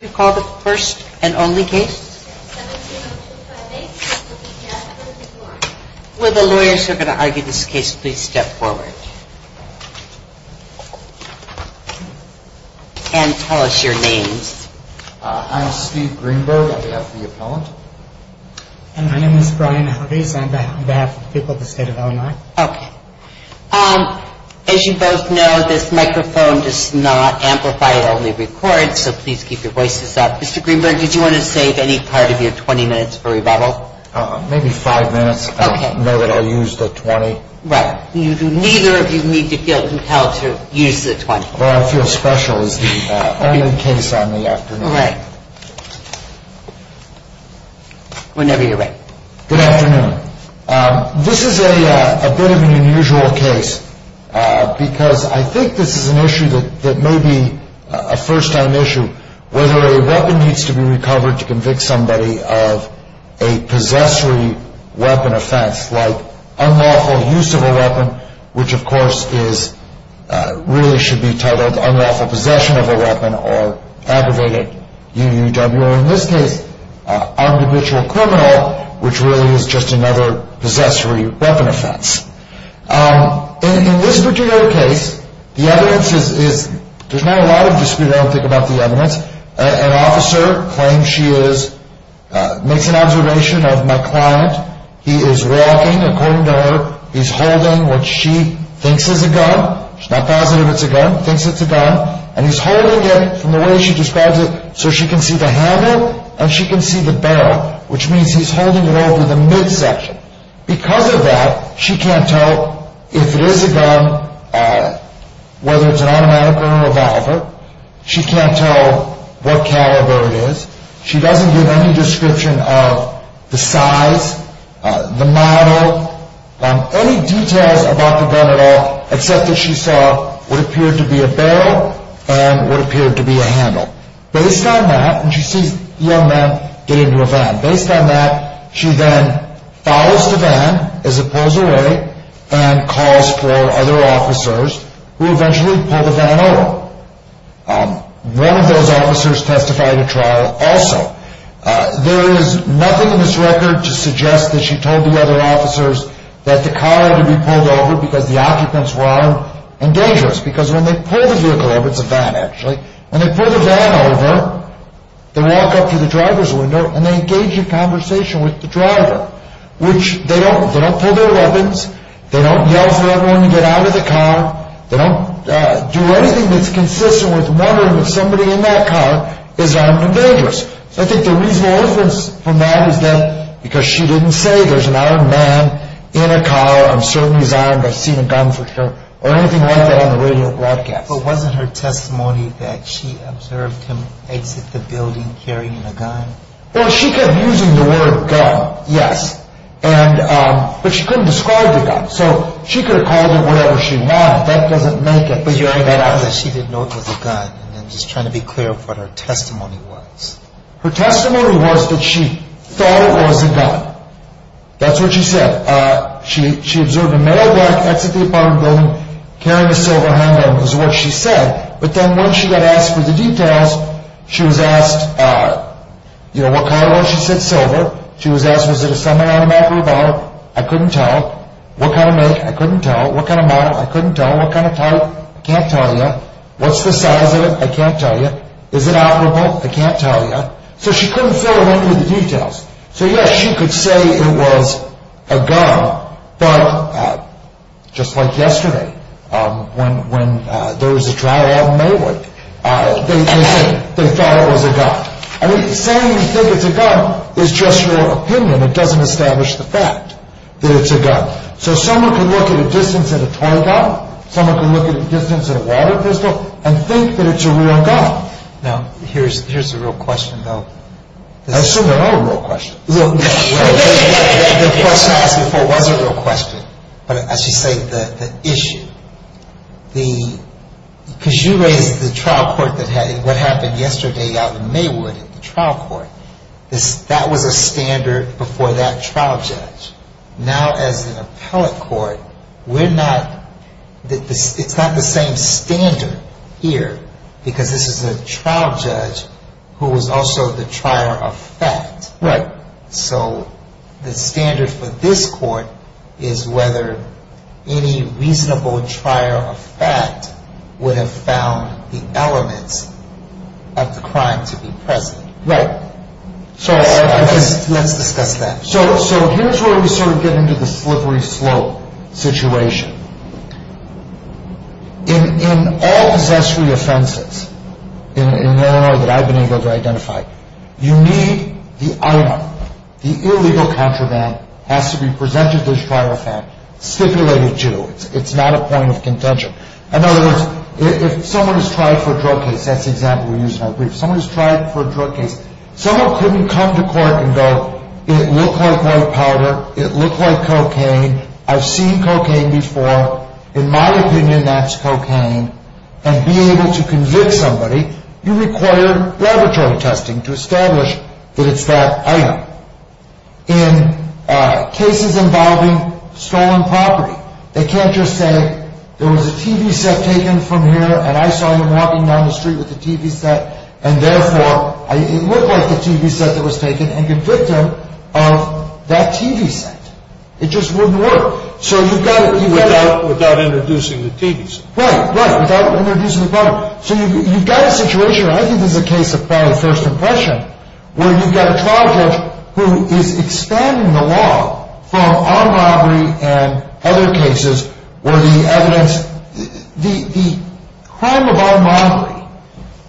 We call the first and only case. Will the lawyers who are going to argue this case please step forward. And tell us your names. I'm Steve Greenberg on behalf of the appellant. And my name is Brian Huggies on behalf of the people of the state of Illinois. Okay. As you both know, this microphone does not amplify, it only records, so please keep your voices down. Mr. Greenberg, did you want to save any part of your 20 minutes for rebuttal? Maybe five minutes. I know that I used the 20. Right. Neither of you need to feel compelled to use the 20. Where I feel special is the other case on the afternoon. Right. Whenever you're ready. Good afternoon. This is a bit of an unusual case, because I think this is an issue that may be a first-time issue. Whether a weapon needs to be recovered to convict somebody of a possessory weapon offense, like unlawful use of a weapon, which of course really should be titled unlawful possession of a weapon or aggravated UUW. Or in this case, an individual criminal, which really is just another possessory weapon offense. In this particular case, the evidence is, there's not a lot of dispute, I don't think, about the evidence. An officer claims she is, makes an observation of my client. He is walking, according to her, he's holding what she thinks is a gun. She's not positive it's a gun, thinks it's a gun. And he's holding it, from the way she describes it, so she can see the handle and she can see the barrel. Which means he's holding it over the midsection. Because of that, she can't tell if it is a gun, whether it's an automatic or a revolver. She can't tell what caliber it is. She doesn't give any description of the size, the model, any details about the gun at all, except that she saw what appeared to be a barrel and what appeared to be a handle. Based on that, and she sees the young man get into a van. Based on that, she then follows the van as it pulls away and calls for other officers, who eventually pull the van over. One of those officers testified at trial also. There is nothing in this record to suggest that she told the other officers that the car had to be pulled over because the occupants were armed and dangerous. Because when they pull the vehicle over, it's a van actually, when they pull the van over, they walk up to the driver's window and they engage in conversation with the driver. They don't pull their weapons, they don't yell for everyone to get out of the car, they don't do anything that's consistent with wondering if somebody in that car is armed and dangerous. I think the reasonable evidence from that is that because she didn't say there's an armed man in a car, I'm certain he's armed, I've seen a gun for sure, or anything like that on the radio broadcast. But wasn't her testimony that she observed him exit the building carrying a gun? Well, she kept using the word gun, yes, but she couldn't describe the gun, so she could have called it whatever she wanted, that doesn't make any sense. But you're saying that because she didn't know it was a gun, and then just trying to be clear of what her testimony was. Her testimony was that she thought it was a gun. That's what she said. She observed a male black exit the apartment building carrying a silver handgun was what she said. But then when she got asked for the details, she was asked, you know, what color was it? She said silver. She was asked, was it a semi-automatic or a bottle? I couldn't tell. What kind of make? I couldn't tell. What kind of model? I couldn't tell. What kind of type? I can't tell you. What's the size of it? I can't tell you. Is it operable? I can't tell you. So she couldn't fill her in with the details. So yes, she could say it was a gun, but just like yesterday, when there was a trial out in Maywood, they said they thought it was a gun. I mean, saying you think it's a gun is just your opinion. It doesn't establish the fact that it's a gun. So someone could look at a distance at a toy gun, someone could look at a distance at a water pistol, and think that it's a real gun. Now, here's the real question, though. I assume there are real questions. The question I asked before was a real question, but I should say the issue. Because you raised the trial court, what happened yesterday out in Maywood, the trial court, that was a standard before that trial judge. Now, as an appellate court, it's not the same standard here, because this is a trial judge who was also the trier of fact. Right. So the standard for this court is whether any reasonable trier of fact would have found the elements of the crime to be present. Right. Let's discuss that. So here's where we sort of get into the slippery slope situation. In all possessory offenses in Illinois that I've been able to identify, you need the item, the illegal contraband, has to be presented to this trier of fact, stipulated to. It's not a point of contention. In other words, if someone has tried for a drug case, that's the example we used in our brief. If someone has tried for a drug case, someone couldn't come to court and go, it looked like white powder, it looked like cocaine, I've seen cocaine before. In my opinion, that's cocaine. And being able to convict somebody, you require laboratory testing to establish that it's that item. In cases involving stolen property, they can't just say, there was a TV set taken from here, and I saw him walking down the street with the TV set, and therefore, it looked like the TV set that was taken, and convict him of that TV set. It just wouldn't work. Without introducing the TV set. Right, right, without introducing the property. So you've got a situation, and I think this is a case of probably first impression, where you've got a trial judge who is expanding the law from armed robbery and other cases where the evidence, the crime of armed robbery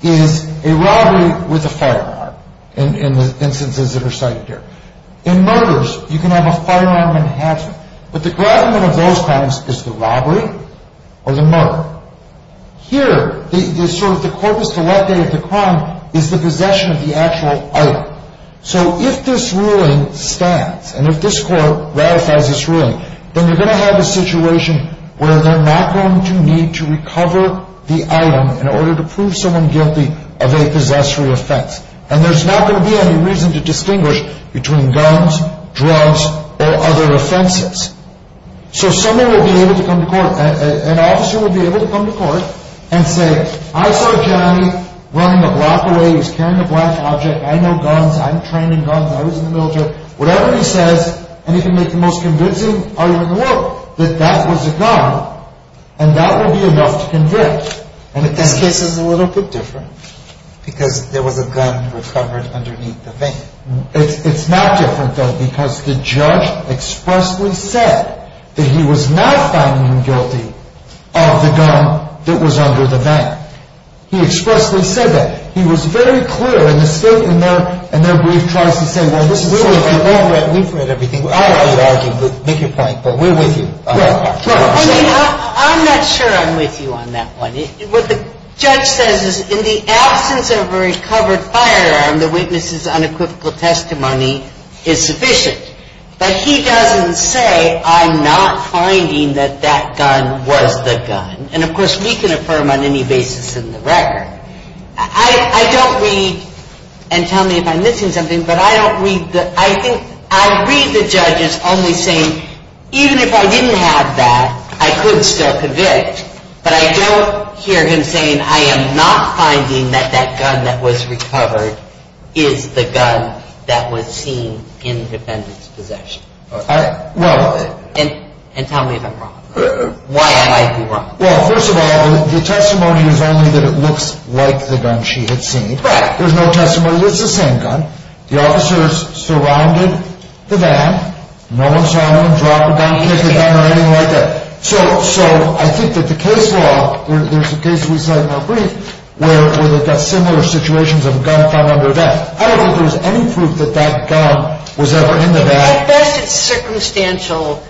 is a robbery with a firearm, in the instances that are cited here. In murders, you can have a firearm enhancement. But the gravamen of those crimes is the robbery or the murder. Here, the corpus delicti of the crime is the possession of the actual item. So if this ruling stands, and if this court ratifies this ruling, then you're going to have a situation where they're not going to need to recover the item in order to prove someone guilty of a possessory offense. And there's not going to be any reason to distinguish between guns, drugs, or other offenses. So someone would be able to come to court, an officer would be able to come to court and say, I saw Johnny running a block away, he was carrying a black object, I know guns, I'm trained in guns, I was in the military. Whatever he says, and he can make the most convincing argument in the world, that that was a gun, and that would be enough to convict. But this case is a little bit different. Because there was a gun recovered underneath the thing. It's not different, though, because the judge expressly said that he was not finding him guilty of the gun that was under the mat. He expressly said that. He was very clear in the statement there, and their brief tries to say, well, this is such a big deal. We've read everything. I don't argue, but make your point. But we're with you. I'm not sure I'm with you on that one. What the judge says is, in the absence of a recovered firearm, the witness's unequivocal testimony is sufficient. But he doesn't say, I'm not finding that that gun was the gun. And, of course, we can affirm on any basis in the record. I don't read, and tell me if I'm missing something, but I don't read the, I think, I read the judges only saying, even if I didn't have that, I could still convict. But I don't hear him saying, I am not finding that that gun that was recovered is the gun that was seen in the defendant's possession. And tell me if I'm wrong. Why am I wrong? Well, first of all, the testimony is only that it looks like the gun she had seen. Right. There's no testimony that it's the same gun. The officers surrounded the van. No one saw anyone drop a gun, pick a gun, or anything like that. So I think that the case law, there's a case we cite in our brief where they've got similar situations of a gun found under a van. I don't think there's any proof that that gun was ever in the van. At best, it's circumstantial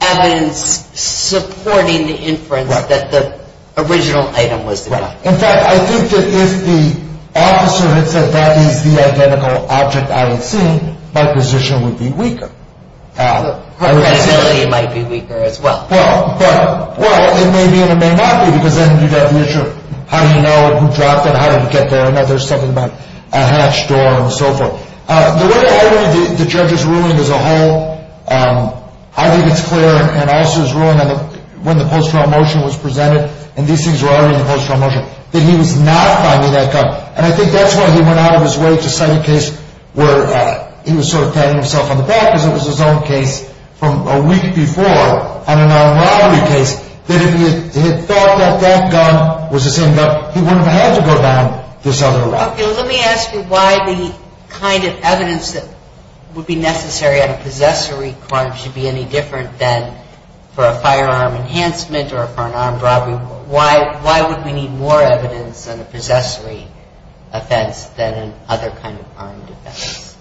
evidence supporting the inference that the original item was the gun. Right. In fact, I think that if the officer had said that is the identical object I had seen, my position would be weaker. Her credibility might be weaker as well. Well, it may be and it may not be because then you've got the issue of how do you know who dropped it, how did it get there. I know there's something about a hatch door and so forth. The way I read the judge's ruling as a whole, I think it's clear and also his ruling when the post-trial motion was presented and these things were already in the post-trial motion, that he was not finding that gun. And I think that's why he went out of his way to cite a case where he was sort of patting himself on the back because it was his own case from a week before on a non-robbery case, that if he had thought that that gun was the same gun, he wouldn't have had to go down this other route. Okay, let me ask you why the kind of evidence that would be necessary on a possessory crime should be any different than for a firearm enhancement or for an armed robbery. Why would we need more evidence on a possessory offense than an other kind of armed offense?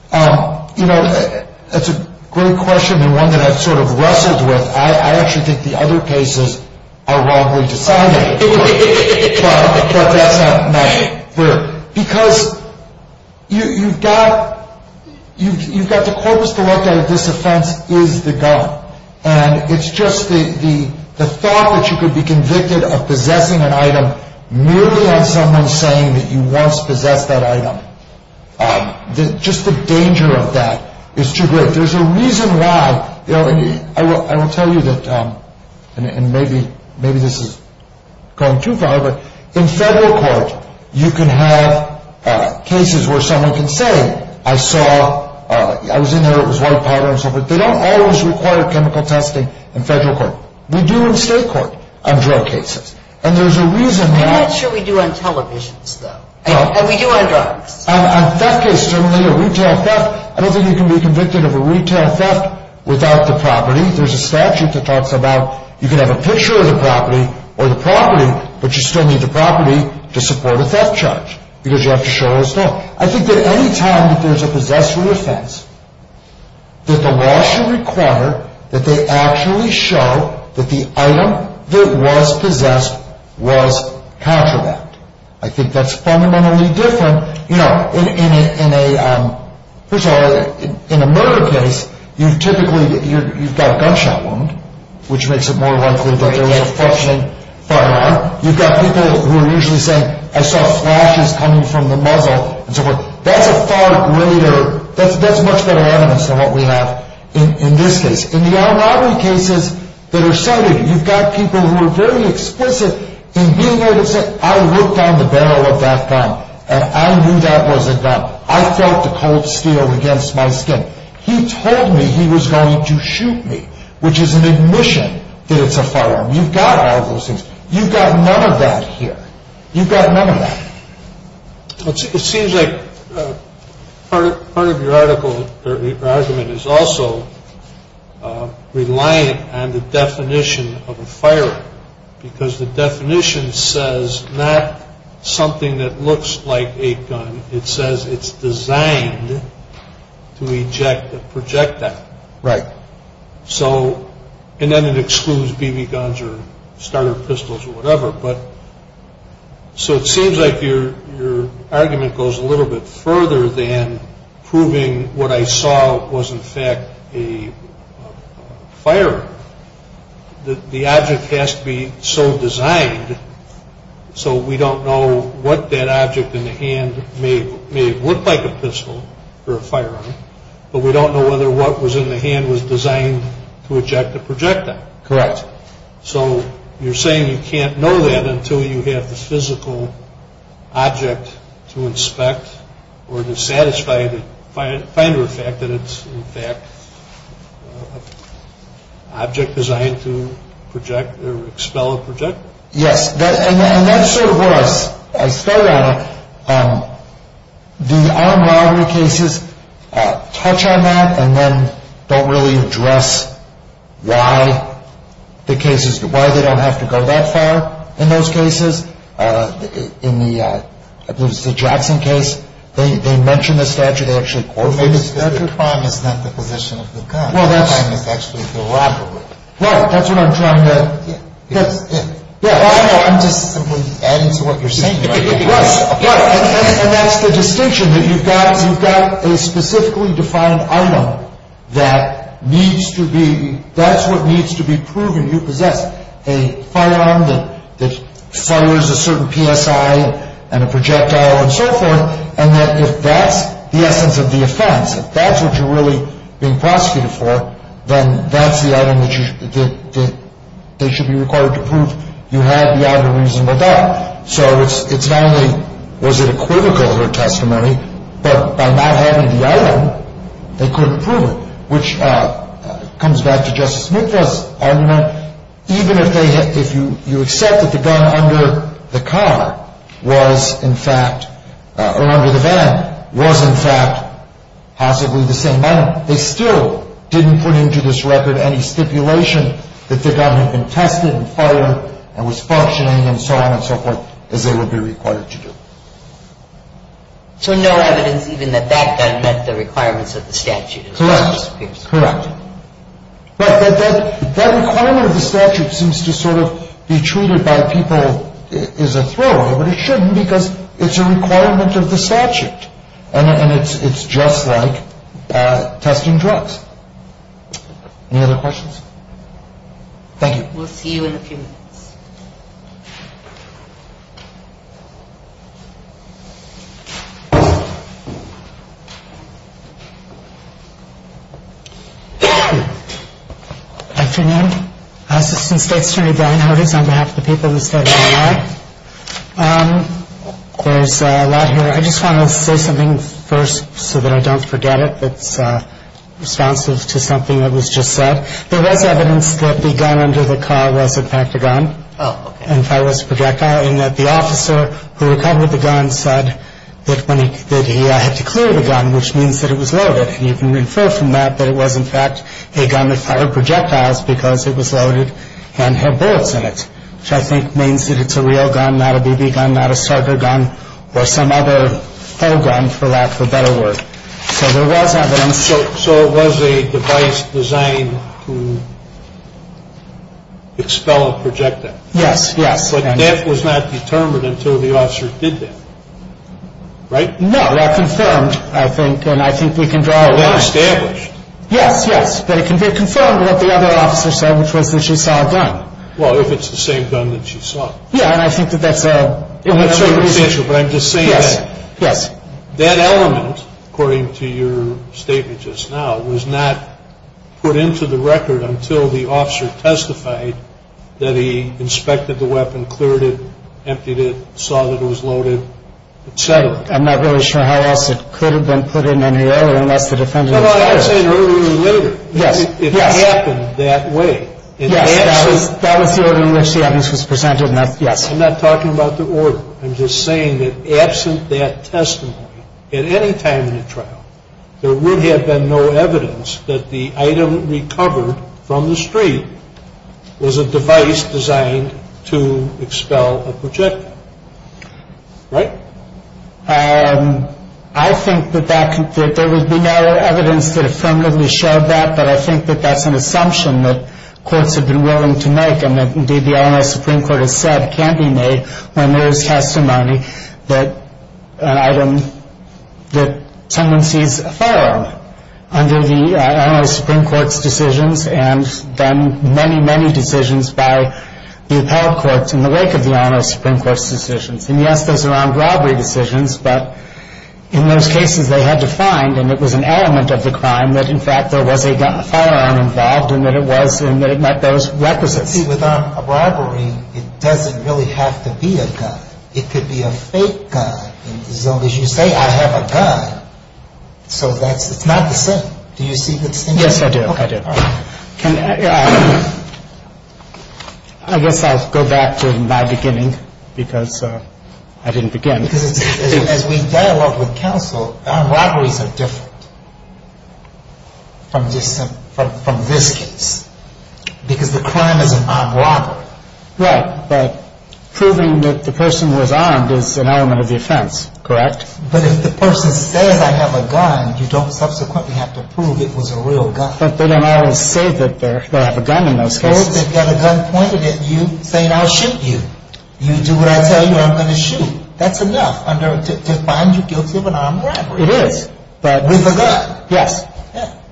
You know, that's a great question and one that I've sort of wrestled with. I actually think the other cases are wrongly decided, but that's not my view. Because you've got the corpus delicto that this offense is the gun. And it's just the thought that you could be convicted of possessing an item merely on someone saying that you once possessed that item. Just the danger of that is too great. There's a reason why. I will tell you that, and maybe this is going too far, but in federal court you can have cases where someone can say, I was in there, it was white powder and so forth. They don't always require chemical testing in federal court. We do in state court on drug cases. And there's a reason why. I'm not sure we do on televisions, though. And we do on drugs. On theft cases, certainly a retail theft, I don't think you can be convicted of a retail theft without the property. There's a statute that talks about you can have a picture of the property or the property, but you still need the property to support a theft charge because you have to show it as though. I think that any time that there's a possessory offense, that the law should require that they actually show that the item that was possessed was contraband. I think that's fundamentally different. You know, in a murder case, you've typically got gunshot wound, which makes it more likely that there was a functioning firearm. You've got people who are usually saying, I saw flashes coming from the muzzle and so forth. That's a far greater, that's much better evidence than what we have in this case. In the armed robbery cases that are cited, you've got people who are very explicit in being able to say, I looked down the barrel of that gun and I knew that was a gun. I felt the cold steel against my skin. He told me he was going to shoot me, which is an admission that it's a firearm. You've got all those things. You've got none of that here. You've got none of that. It seems like part of your argument is also relying on the definition of a firearm, because the definition says not something that looks like a gun. It says it's designed to eject a projectile. Right. And then it excludes BB guns or starter pistols or whatever. So it seems like your argument goes a little bit further than proving what I saw was in fact a firearm. The object has to be so designed so we don't know what that object in the hand may have looked like a pistol or a firearm, but we don't know whether what was in the hand was designed to eject a projectile. Correct. So you're saying you can't know that until you have the physical object to inspect or to satisfy the finder of fact that it's in fact an object designed to project or expel a projectile? Yes. And that's sort of where I started on it. The armed robbery cases touch on that and then don't really address why the cases, why they don't have to go that far in those cases. In the Jackson case, they mention the statute. They actually quote it. Well, maybe it's because the crime is not the position of the gun. The crime is actually the robbery. Right. That's what I'm trying to. I'm just simply adding to what you're saying. And that's the distinction that you've got. You've got a specifically defined item that needs to be, that's what needs to be proven. You possess a firearm that fires a certain PSI and a projectile and so forth, and that if that's the essence of the offense, if that's what you're really being prosecuted for, then that's the item that they should be required to prove you have the item of reasonable doubt. So it's not only was it equivocal in her testimony, but by not having the item, they couldn't prove it, which comes back to Justice Smith's argument. Even if you accept that the gun under the car was, in fact, or under the van was, in fact, possibly the same item, they still didn't put into this record any stipulation that the gun had been tested and fired and was functioning and so on and so forth as they would be required to do. So no evidence even that that gun met the requirements of the statute. Correct. Correct. But that requirement of the statute seems to sort of be treated by people as a throwaway, but it shouldn't because it's a requirement of the statute, and it's just like testing drugs. Any other questions? Thank you. We'll see you in a few minutes. Good afternoon. Assistant State Attorney Brian Hardings on behalf of the people of the State of Illinois. There's a lot here. I just want to say something first so that I don't forget it that's responsive to something that was just said. There was evidence that the gun under the car was, in fact, a gun and fireless projectile and that the officer who recovered the gun said that when he did, he had to clear the gun, which means that it was loaded. And you can infer from that that it was, in fact, a gun that fired projectiles because it was loaded and had bullets in it, which I think means that it's a real gun, not a BB gun, not a Sarger gun or some other gun for lack of a better word. So there was evidence. So it was a device designed to expel a projectile. Yes, yes. But that was not determined until the officer did that, right? No. That confirmed, I think, and I think we can draw a line. It was established. Yes, yes. But it can be confirmed what the other officer said, which was that she saw a gun. Well, if it's the same gun that she saw. Yeah, and I think that that's a... It's circumstantial, but I'm just saying that. Yes, yes. That element, according to your statement just now, was not put into the record until the officer testified that he inspected the weapon, cleared it, emptied it, saw that it was loaded, et cetera. I'm not really sure how else it could have been put in any earlier unless the defendant... No, no, I'm saying earlier or later. Yes, yes. It happened that way. Yes, that was the order in which the evidence was presented, yes. I'm not talking about the order. I'm just saying that absent that testimony at any time in the trial, there would have been no evidence that the item recovered from the street was a device designed to expel a projectile. Right? I think that there would be no evidence that affirmatively showed that, but I think that that's an assumption that courts have been willing to make and that, indeed, the Illinois Supreme Court has said can be made when there is testimony that an item, that someone sees a firearm under the Illinois Supreme Court's decisions and then many, many decisions by the appellate courts in the wake of the Illinois Supreme Court's decisions. And, yes, those are armed robbery decisions, but in those cases they had to find, and it was an element of the crime that, in fact, there was a firearm involved and that it was and that it met those requisites. See, with armed robbery, it doesn't really have to be a gun. It could be a fake gun. As long as you say, I have a gun, so that's not the same. Do you see the distinction? Yes, I do. I do. I guess I'll go back to my beginning because I didn't begin. As we dialogue with counsel, armed robberies are different from this case because the crime is an armed robbery. Right, but proving that the person was armed is an element of the offense, correct? But if the person says, I have a gun, you don't subsequently have to prove it was a real gun. But they don't always say that they have a gun in those cases. If the person says they've got a gun pointed at you saying, I'll shoot you, you do what I tell you, I'm going to shoot, that's enough to find you guilty of an armed robbery. It is. With a gun. Yes.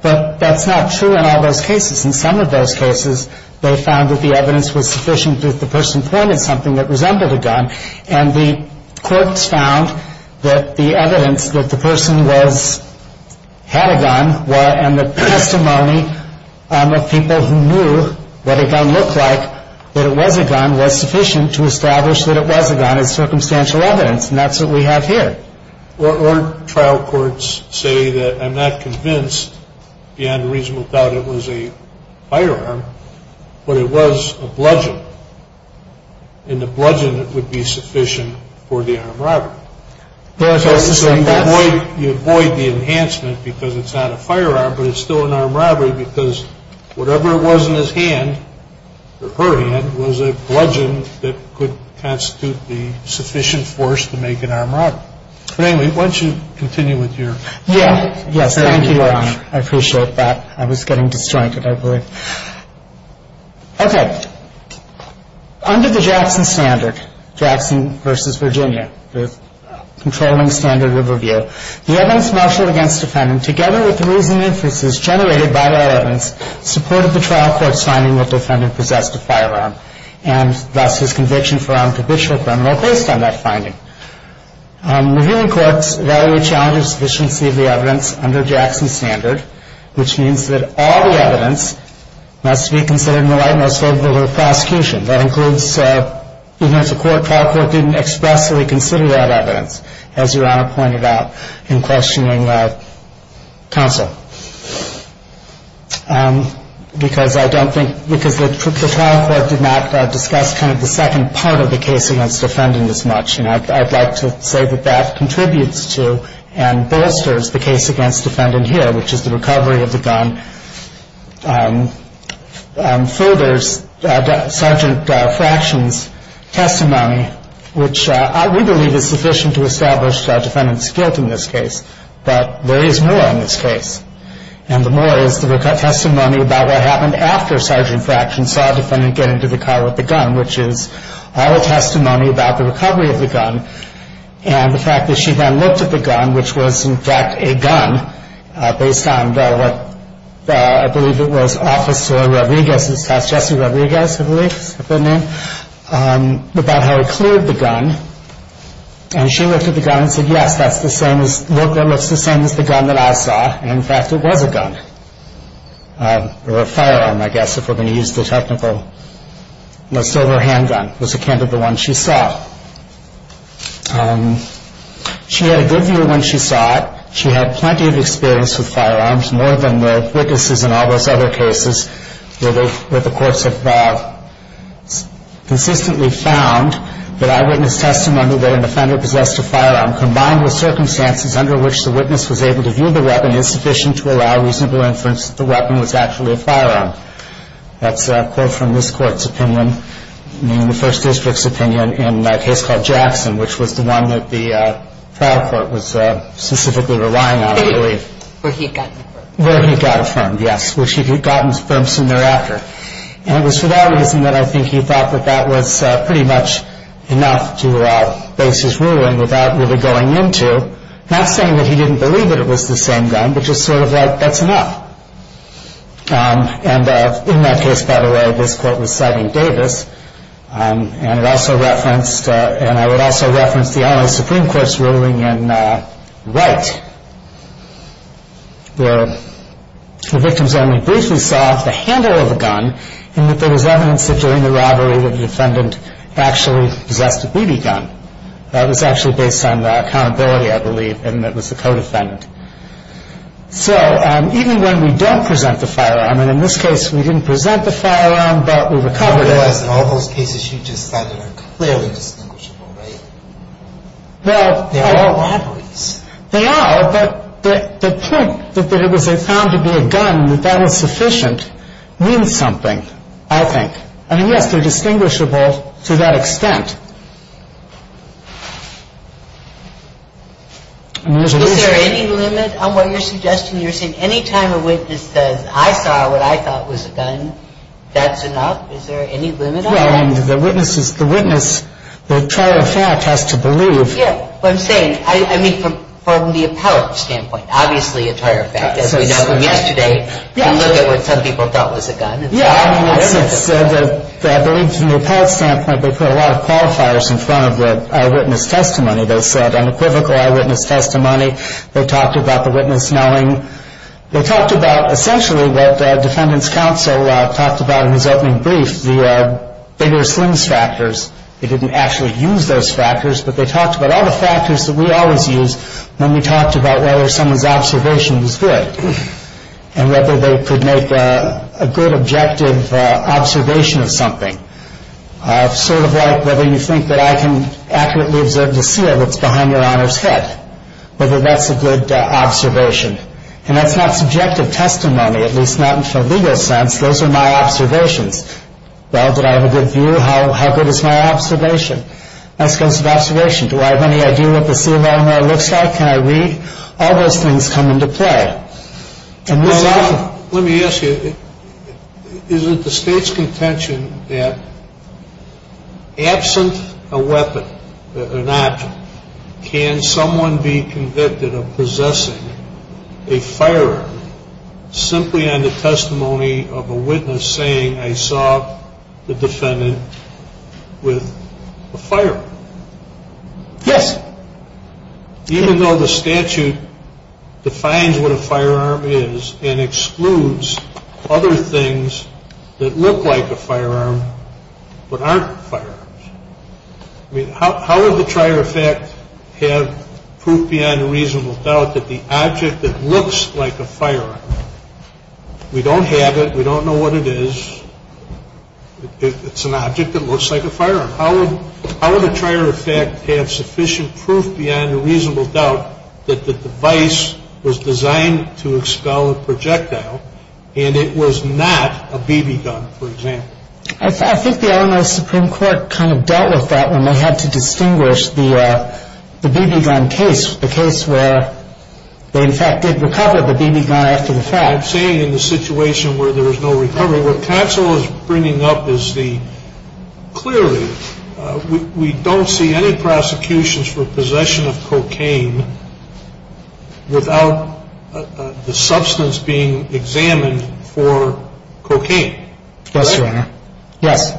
But that's not true in all those cases. In some of those cases, they found that the evidence was sufficient that the person pointed something that resembled a gun, and the courts found that the evidence that the person had a gun and the testimony of people who knew what a gun looked like, that it was a gun, was sufficient to establish that it was a gun as circumstantial evidence, and that's what we have here. Or trial courts say that I'm not convinced beyond a reasonable doubt it was a firearm, but it was a bludgeon, and the bludgeon would be sufficient for the armed robber. So you avoid the enhancement because it's not a firearm, but it's still an armed robbery because whatever it was in his hand, or her hand, was a bludgeon that could constitute the sufficient force to make an armed robbery. Anyway, why don't you continue with your... Yes. Thank you, Your Honor. I appreciate that. I was getting disjointed, I believe. Okay. Under the Jackson standard, Jackson v. Virginia, the controlling standard of review, the evidence marshaled against the defendant, together with the reasoning inferences generated by that evidence, supported the trial court's finding that the defendant possessed a firearm, and thus his conviction for armed habitual criminal based on that finding. Reviewing courts value the challenge of sufficiency of the evidence under Jackson's standard, which means that all the evidence must be considered in the light most favorable to the prosecution. That includes, even if the trial court didn't expressly consider that evidence, as Your Honor pointed out in questioning counsel. Because I don't think, because the trial court did not discuss kind of the second part of the case against the defendant as much, and I'd like to say that that contributes to and bolsters the case against the defendant here, which is the recovery of the gun, furthers Sergeant Fraction's testimony, which we believe is sufficient to establish the defendant's guilt in this case. But there is more in this case, and the more is the testimony about what happened after Sergeant Fraction saw the defendant get into the car with the gun, which is all the testimony about the recovery of the gun, and the fact that she then looked at the gun, which was in fact a gun, based on what I believe it was Officer Rodriguez's test, Jesse Rodriguez I believe is the name, about how he cleared the gun, and she looked at the gun and said, yes, that's the same as, that looks the same as the gun that I saw, and in fact it was a gun, or a firearm I guess if we're going to use the technical, a silver handgun was the one she saw. She had a good view when she saw it. She had plenty of experience with firearms, more than the witnesses in all those other cases where the courts have consistently found that eyewitness testimony that an offender possessed a firearm, combined with circumstances under which the witness was able to view the weapon, that's a quote from this court's opinion, the first district's opinion in a case called Jackson, which was the one that the trial court was specifically relying on, I believe. Where he got a firearm. Where he got a firearm, yes, which he had gotten a firearm soon thereafter, and it was for that reason that I think he thought that that was pretty much enough to base his ruling, without really going into, not saying that he didn't believe that it was the same gun, but just sort of like, that's enough. And in that case, by the way, this court was citing Davis, and it also referenced, and I would also reference the LA Supreme Court's ruling in Wright, where the victim's family briefly saw the handle of a gun, and that there was evidence that during the robbery that the defendant actually possessed a BB gun. That was actually based on accountability, I believe, and it was the co-defendant. So even when we don't present the firearm, and in this case we didn't present the firearm, but we recovered it. I realize in all those cases you just said they're clearly distinguishable, right? They are robberies. They are, but the point that it was found to be a gun, that that was sufficient, means something, I think. I mean, yes, they're distinguishable to that extent. Is there any limit on what you're suggesting? You're saying any time a witness says, I saw what I thought was a gun, that's enough? Is there any limit on that? Well, the witness, the trial of fact, has to believe. Yeah, what I'm saying, I mean, from the appellate standpoint, obviously a trial of fact. As we know from yesterday, we look at what some people thought was a gun. Yeah, I mean, I believe from the appellate standpoint they put a lot of qualifiers in front of the eyewitness testimony. They said unequivocal eyewitness testimony. They talked about the witness knowing. They talked about essentially what the defendant's counsel talked about in his opening brief, the bigger slings factors. They didn't actually use those factors, but they talked about all the factors that we always use when we talked about whether someone's observation was good and whether they could make a good objective observation of something, sort of like whether you think that I can accurately observe the seal that's behind your Honor's head, whether that's a good observation. And that's not subjective testimony, at least not in the legal sense. Those are my observations. Well, did I have a good view? How good is my observation? As it comes to observation, do I have any idea what the seal on there looks like? Can I read? All those things come into play. Let me ask you, is it the State's contention that absent a weapon, an object, can someone be convicted of possessing a firearm simply on the testimony of a witness saying, I saw the defendant with a firearm? Yes. Even though the statute defines what a firearm is and excludes other things that look like a firearm but aren't firearms. I mean, how would the trier of fact have proof beyond a reasonable doubt that the object that looks like a firearm, we don't have it, we don't know what it is, it's an object that looks like a firearm. How would a trier of fact have sufficient proof beyond a reasonable doubt that the device was designed to expel a projectile and it was not a BB gun, for example? I think the Illinois Supreme Court kind of dealt with that when they had to distinguish the BB gun case, the case where they, in fact, did recover the BB gun after the fact. I'm saying in the situation where there was no recovery, what counsel is bringing up is the, clearly, we don't see any prosecutions for possession of cocaine without the substance being examined for cocaine. Yes, Your Honor. Yes.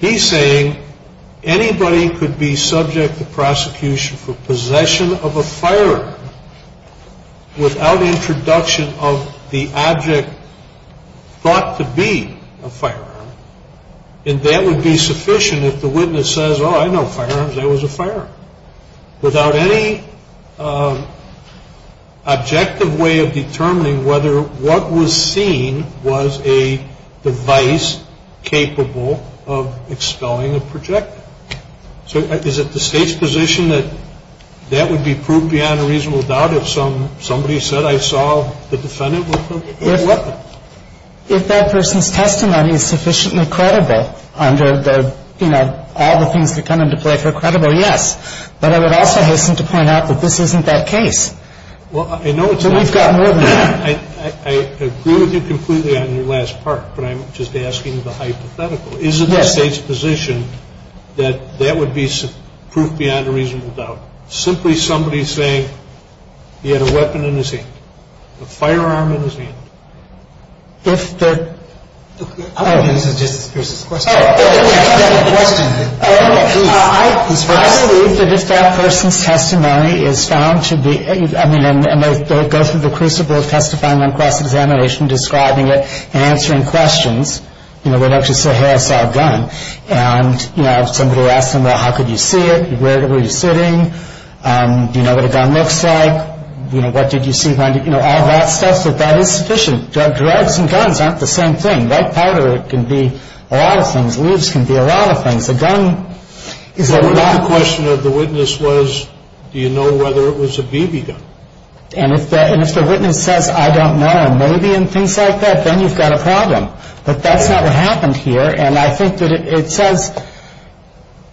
He's saying anybody could be subject to prosecution for possession of a firearm without introduction of the object thought to be a firearm, and that would be sufficient if the witness says, oh, I know firearms, that was a firearm, without any objective way of determining whether what was seen was a device capable of expelling a projectile. So is it the State's position that that would be proved beyond a reasonable doubt if somebody said, I saw the defendant with the weapon? If that person's testimony is sufficiently credible under the, you know, all the things that come into play for credible, yes. But I would also hasten to point out that this isn't that case. Well, I know it's not. So we've got more than that. I agree with you completely on your last part, but I'm just asking the hypothetical. Yes. Is it the State's position that that would be proof beyond a reasonable doubt? Simply somebody saying he had a weapon in his hand, a firearm in his hand? If the, oh. This is Justice Pierce's question. I believe that if that person's testimony is found to be, I mean, and they go through the crucible of testifying on cross-examination, describing it, answering questions, you know, they don't just say, hey, I saw a gun. And, you know, if somebody asks them, well, how could you see it? Where were you sitting? Do you know what a gun looks like? You know, what did you see when you, you know, all that stuff, that that is sufficient. Drugs and guns aren't the same thing. Red powder can be a lot of things. Leaves can be a lot of things. A gun is a lot. The question of the witness was, do you know whether it was a BB gun? And if the witness says, I don't know, maybe, and things like that, then you've got a problem. But that's not what happened here. And I think that it says,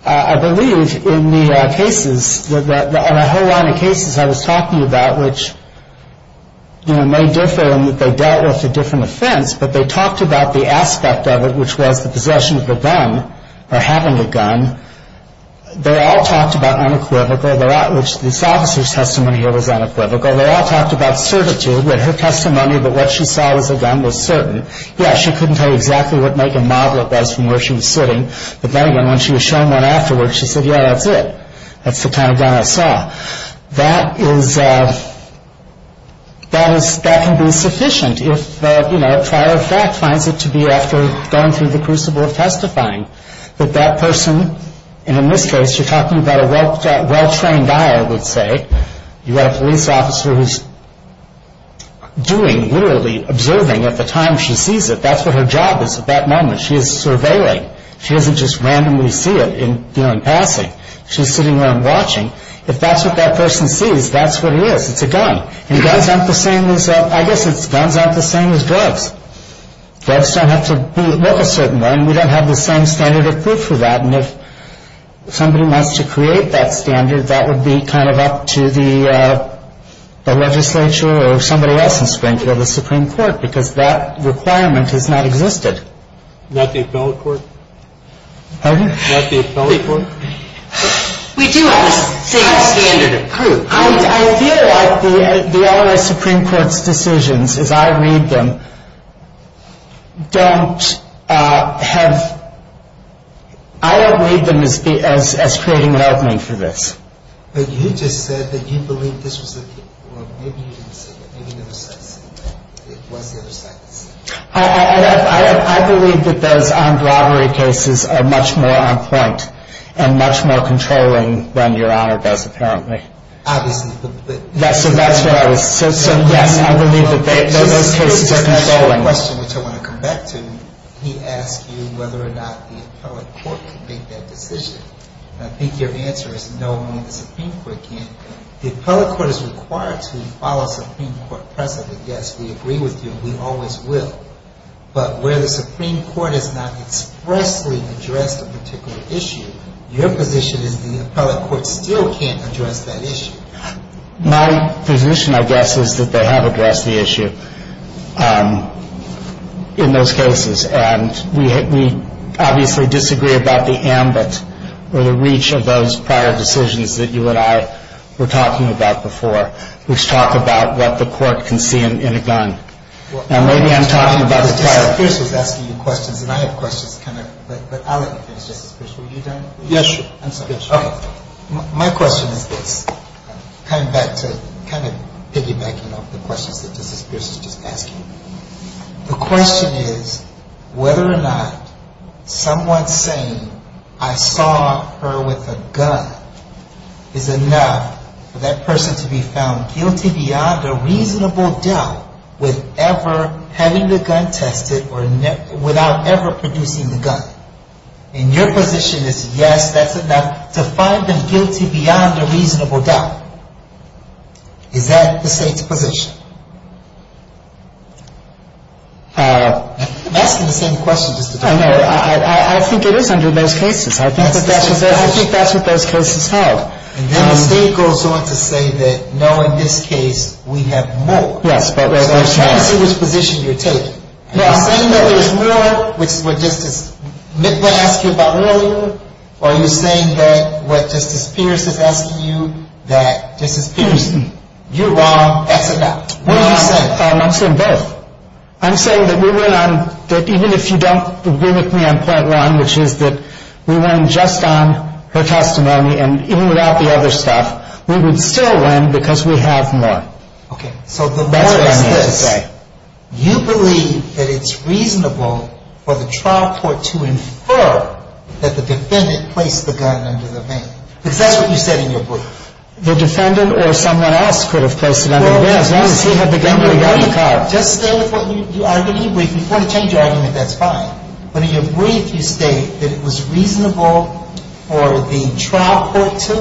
I believe in the cases, on a whole line of cases I was talking about, which, you know, may differ in that they dealt with a different offense, but they talked about the aspect of it, which was the possession of a gun or having a gun. They all talked about unequivocal, which this officer's testimony here was unequivocal. They all talked about certitude with her testimony that what she saw was a gun was certain. Yes, she couldn't tell you exactly what make and model it was from where she was sitting. But then again, when she was shown one afterwards, she said, yeah, that's it. That's the kind of gun I saw. That can be sufficient if trial of fact finds it to be after going through the crucible of testifying. But that person, and in this case you're talking about a well-trained eye, I would say. You've got a police officer who's doing, literally observing at the time she sees it. That's what her job is at that moment. She is surveilling. She doesn't just randomly see it in passing. She's sitting there and watching. If that's what that person sees, that's what it is. It's a gun. And guns aren't the same as, I guess it's guns aren't the same as drugs. Drugs don't have to look a certain way, and we don't have the same standard of proof for that. And if somebody wants to create that standard, that would be kind of up to the legislature or somebody else in Springfield, the Supreme Court, because that requirement has not existed. Not the appellate court? Pardon? Not the appellate court? We do have the same standard of proof. I feel like the LRA Supreme Court's decisions, as I read them, don't have – I don't read them as creating an opening for this. But you just said that you believe this was a – well, maybe you didn't say that, maybe the other side said that. It was the other side that said that. I believe that those armed robbery cases are much more on point and much more controlling than Your Honor does, apparently. Obviously. So that's what I was – so, yes, I believe that those cases are controlling. Just to answer your question, which I want to come back to, he asked you whether or not the appellate court could make that decision. And I think your answer is no, I mean, the Supreme Court can't. The appellate court is required to follow Supreme Court precedent. Yes, we agree with you. We always will. But where the Supreme Court has not expressly addressed a particular issue, your position is the appellate court still can't address that issue. My position, I guess, is that they have addressed the issue in those cases. And we obviously disagree about the ambit or the reach of those prior decisions that you and I were talking about before, which talk about what the court can see in a gun. Now, maybe I'm talking about the prior. Justice Pierce was asking you questions, and I have questions. But I'll let you finish, Justice Pierce. Were you done? Yes, Your Honor. I'm sorry. Okay. My question is this. I'm coming back to kind of piggybacking off the questions that Justice Pierce was just asking. The question is whether or not someone saying, I saw her with a gun, is enough for that person to be found guilty beyond a reasonable doubt with ever having the gun tested or without ever producing the gun. And your position is, yes, that's enough to find them guilty beyond a reasonable doubt. Is that the State's position? I'm asking the same question. I know. I think it is under most cases. I think that's what most cases have. And then the State goes on to say that, no, in this case, we have more. Yes. So I'm trying to see which position you're taking. Are you saying that there's more, which is what Justice – what they asked you about earlier, or are you saying that what Justice Pierce is asking you, that Justice Pierce, you're wrong, that's enough? I'm saying both. I'm saying that we went on – that even if you don't agree with me on point one, which is that we went just on her testimony, and even without the other stuff, we would still win because we have more. Okay. So the more is this. That's what I'm here to say. You believe that it's reasonable for the trial court to infer that the defendant placed the gun under the van. Because that's what you said in your book. The defendant or someone else could have placed it under the van as long as he had the gun in the car. Just stay with what you argued in your brief. If you want to change your argument, that's fine. But in your brief, you state that it was reasonable for the trial court to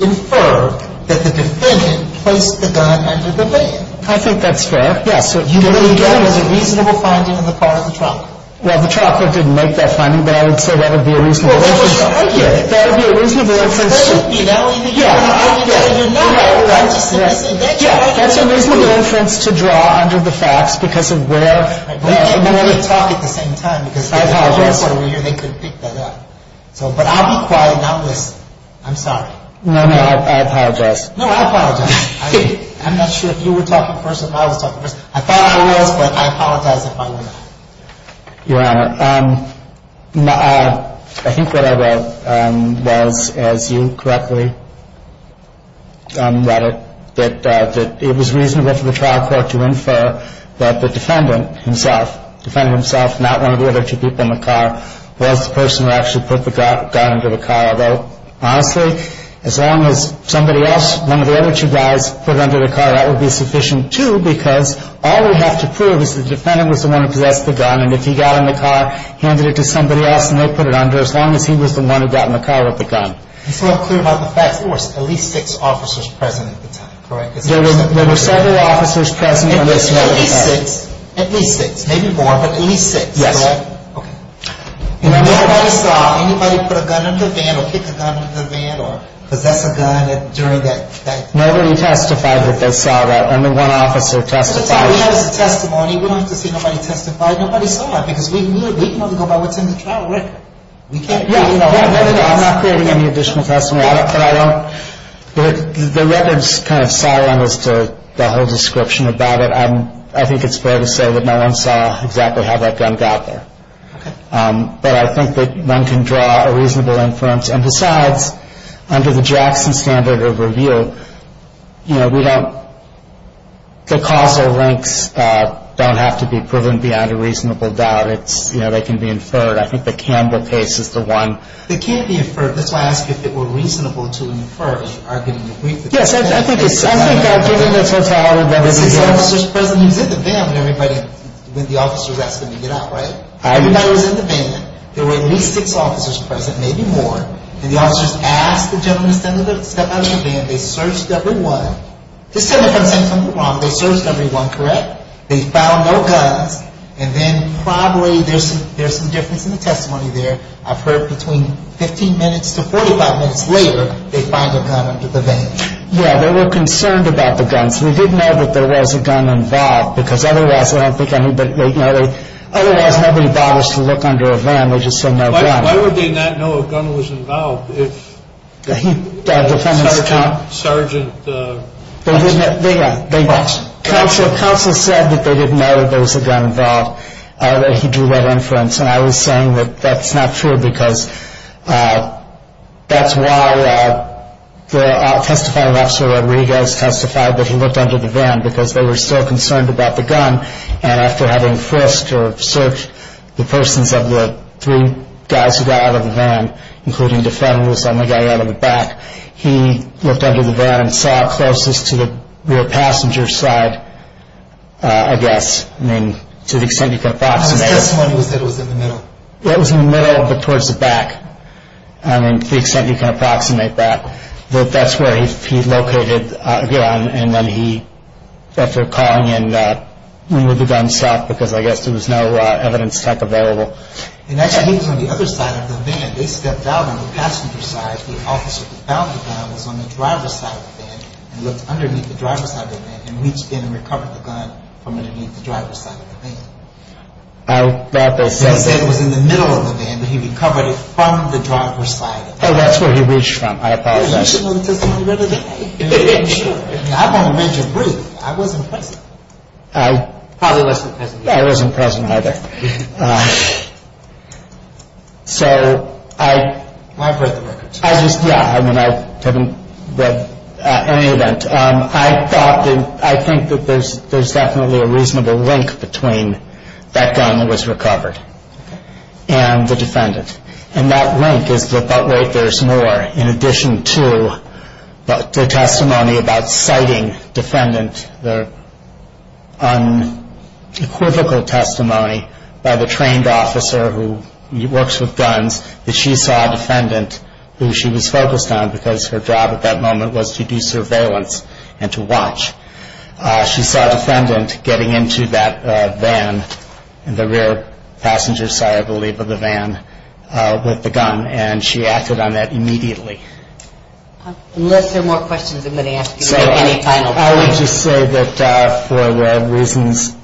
infer that the defendant placed the gun under the van. I think that's fair. Yes. So you believe that was a reasonable finding on the part of the trial court. Well, the trial court didn't make that finding, but I would say that would be a reasonable inference. Well, that was your argument. That would be a reasonable inference. That would be. That would be the argument that you're not right. That's a reasonable inference to draw under the facts because of where. We can't really talk at the same time. I apologize. Because they could pick that up. But I'll be quiet and I'll listen. I'm sorry. No, no. I apologize. No, I apologize. I'm not sure if you were talking first or if I was talking first. I thought I was, but I apologize if I were not. Your Honor, I think what I wrote was, as you correctly read it, that it was reasonable for the trial court to infer that the defendant himself, the defendant himself, not one of the other two people in the car, was the person who actually put the gun under the car. Although, honestly, as long as somebody else, one of the other two guys, put it under the car, that would be sufficient, too, because all we have to prove is that the defendant was the one who possessed the gun. And if he got in the car, handed it to somebody else, and they put it under, as long as he was the one who got in the car with the gun. It's not clear about the facts. There were at least six officers present at the time, correct? There were several officers present. At least six. At least six. Maybe more, but at least six, correct? Yes. Okay. And nobody saw anybody put a gun in the van or kick a gun in the van or possess a gun during that time? Nobody testified that they saw that. Only one officer testified. We have this testimony. We don't have to see nobody testify. Nobody saw that, because we can only go by what's in the trial record. We can't really know. No, no, no. I'm not creating any additional testimony, but I don't. The record's kind of silent as to the whole description about it. I think it's fair to say that no one saw exactly how that gun got there. Okay. But I think that one can draw a reasonable inference. And besides, under the Jackson standard of review, you know, we don't – the causal links don't have to be proven beyond a reasonable doubt. It's – you know, they can be inferred. I think the Canberra case is the one. They can't be inferred. That's why I asked if it were reasonable to infer, as you argued in the brief. Yes, I think it's – I think given the totality of everything. There were six officers present. He was in the van when everybody – when the officer was asking him to get out, right? Everybody was in the van. There were at least six officers present, maybe more. And the officers asked the gentleman to step out of the van. They searched everyone. Just tell me if I'm saying something wrong. They searched everyone, correct? They found no guns. And then probably there's some difference in the testimony there. I've heard between 15 minutes to 45 minutes later they find a gun under the van. Yeah, they were concerned about the guns. We did know that there was a gun involved because otherwise I don't think anybody – you know, they – Why would they not know a gun was involved if the sergeant wasn't involved? Counsel said that they didn't know that there was a gun involved, that he drew that inference. And I was saying that that's not true because that's why the testifying officer, Rodriguez, testified that he looked under the van because they were still concerned about the gun. And after having frisked or searched the persons of the three guys who got out of the van, including the defender who was the only guy out of the back, he looked under the van and saw closest to the rear passenger side, I guess. I mean, to the extent you can approximate. How much testimony was there that it was in the middle? It was in the middle but towards the back, I mean, to the extent you can approximate that. That's where he located a gun and then he, after calling in, removed the gun south because I guess there was no evidence tech available. And actually, he was on the other side of the van. They stepped out on the passenger side. The officer that found the gun was on the driver's side of the van and looked underneath the driver's side of the van and reached in and recovered the gun from underneath the driver's side of the van. That was – He said it was in the middle of the van but he recovered it from the driver's side of the van. Oh, that's where he reached from. I apologize. You should know the testimony better than I do. Sure. I want to make it brief. I wasn't present. I probably wasn't present either. I wasn't present either. So I – Well, I've read the records. I just – yeah, I mean, I haven't read any of that. I thought that – I think that there's definitely a reasonable link between that gun that was recovered and the defendant. And that link is that that way there's more, in addition to the testimony about citing defendant, the unequivocal testimony by the trained officer who works with guns, that she saw a defendant who she was focused on because her job at that moment was to do surveillance and to watch. She saw a defendant getting into that van, the rear passenger side, I believe, of the van with the gun, and she acted on that immediately. Unless there are more questions, I'm going to ask you any final questions. I would just say that for the reasons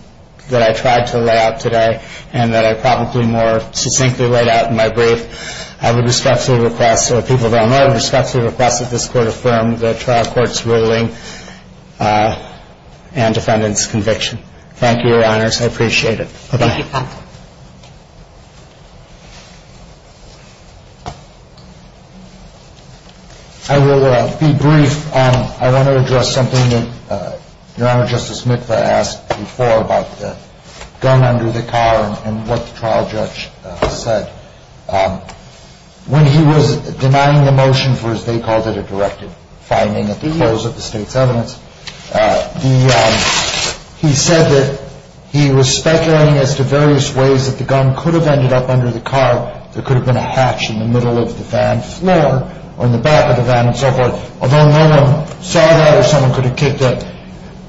that I tried to lay out today and that I probably more succinctly laid out in my brief, I would respectfully request, or people that don't know, I would respectfully request that this court affirm the trial court's ruling and defendant's conviction. Thank you, Your Honors. I appreciate it. Bye-bye. I will be brief. I want to address something that Your Honor, Justice Mitva asked before about the gun under the car and what the trial judge said. When he was denying the motion for, as they called it, a directed finding at the close of the state's evidence, he said that he was speculating as to various ways that the gun could have ended up under the car. There could have been a hatch in the middle of the van floor or in the back of the van and so forth, although no one saw that or someone could have kicked it.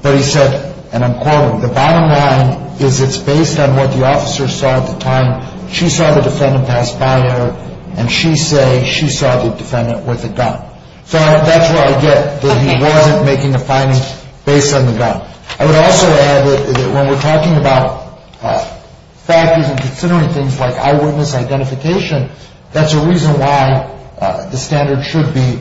But he said, and I'm quoting, the bottom line is it's based on what the officer saw at the time. She saw the defendant pass by her, and she say she saw the defendant with a gun. So that's where I get that he wasn't making a finding based on the gun. I would also add that when we're talking about factors and considering things like eyewitness identification, that's a reason why the standard should be,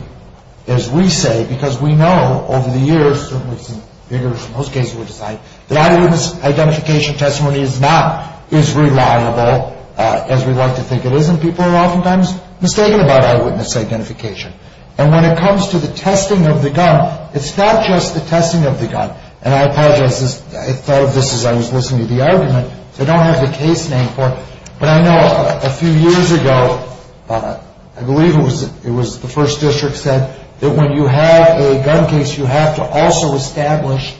as we say, because we know over the years, certainly some figures in most cases would decide, that eyewitness identification testimony is not as reliable as we'd like to think it is, and people are oftentimes mistaken about eyewitness identification. And when it comes to the testing of the gun, it's not just the testing of the gun. And I apologize, I thought of this as I was listening to the argument. I don't have the case name for it. But I know a few years ago, I believe it was the first district said, that when you have a gun case, you have to also establish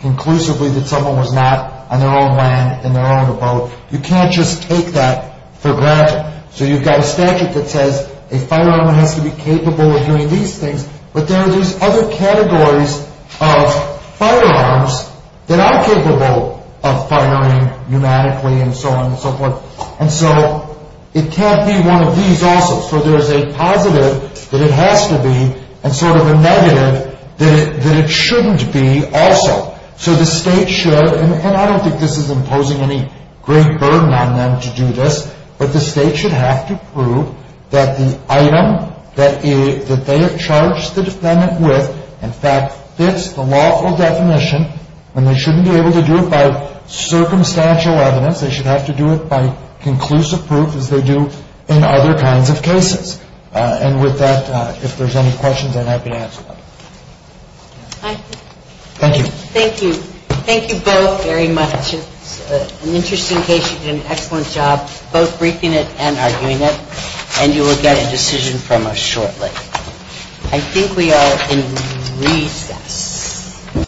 conclusively that someone was not on their own land, in their own abode. You can't just take that for granted. So you've got a statute that says a firearm has to be capable of doing these things, but there are these other categories of firearms that are capable of firing pneumatically and so on and so forth. And so it can't be one of these also. So there's a positive that it has to be, and sort of a negative that it shouldn't be also. So the state should, and I don't think this is imposing any great burden on them to do this, but the state should have to prove that the item that they have charged the defendant with, in fact, fits the lawful definition, and they shouldn't be able to do it by circumstantial evidence. They should have to do it by conclusive proof, as they do in other kinds of cases. And with that, if there's any questions, I'm happy to answer them. Thank you. Thank you. Thank you both very much. An interesting case. You did an excellent job both briefing it and arguing it, and you will get a decision from us shortly. I think we are in recess.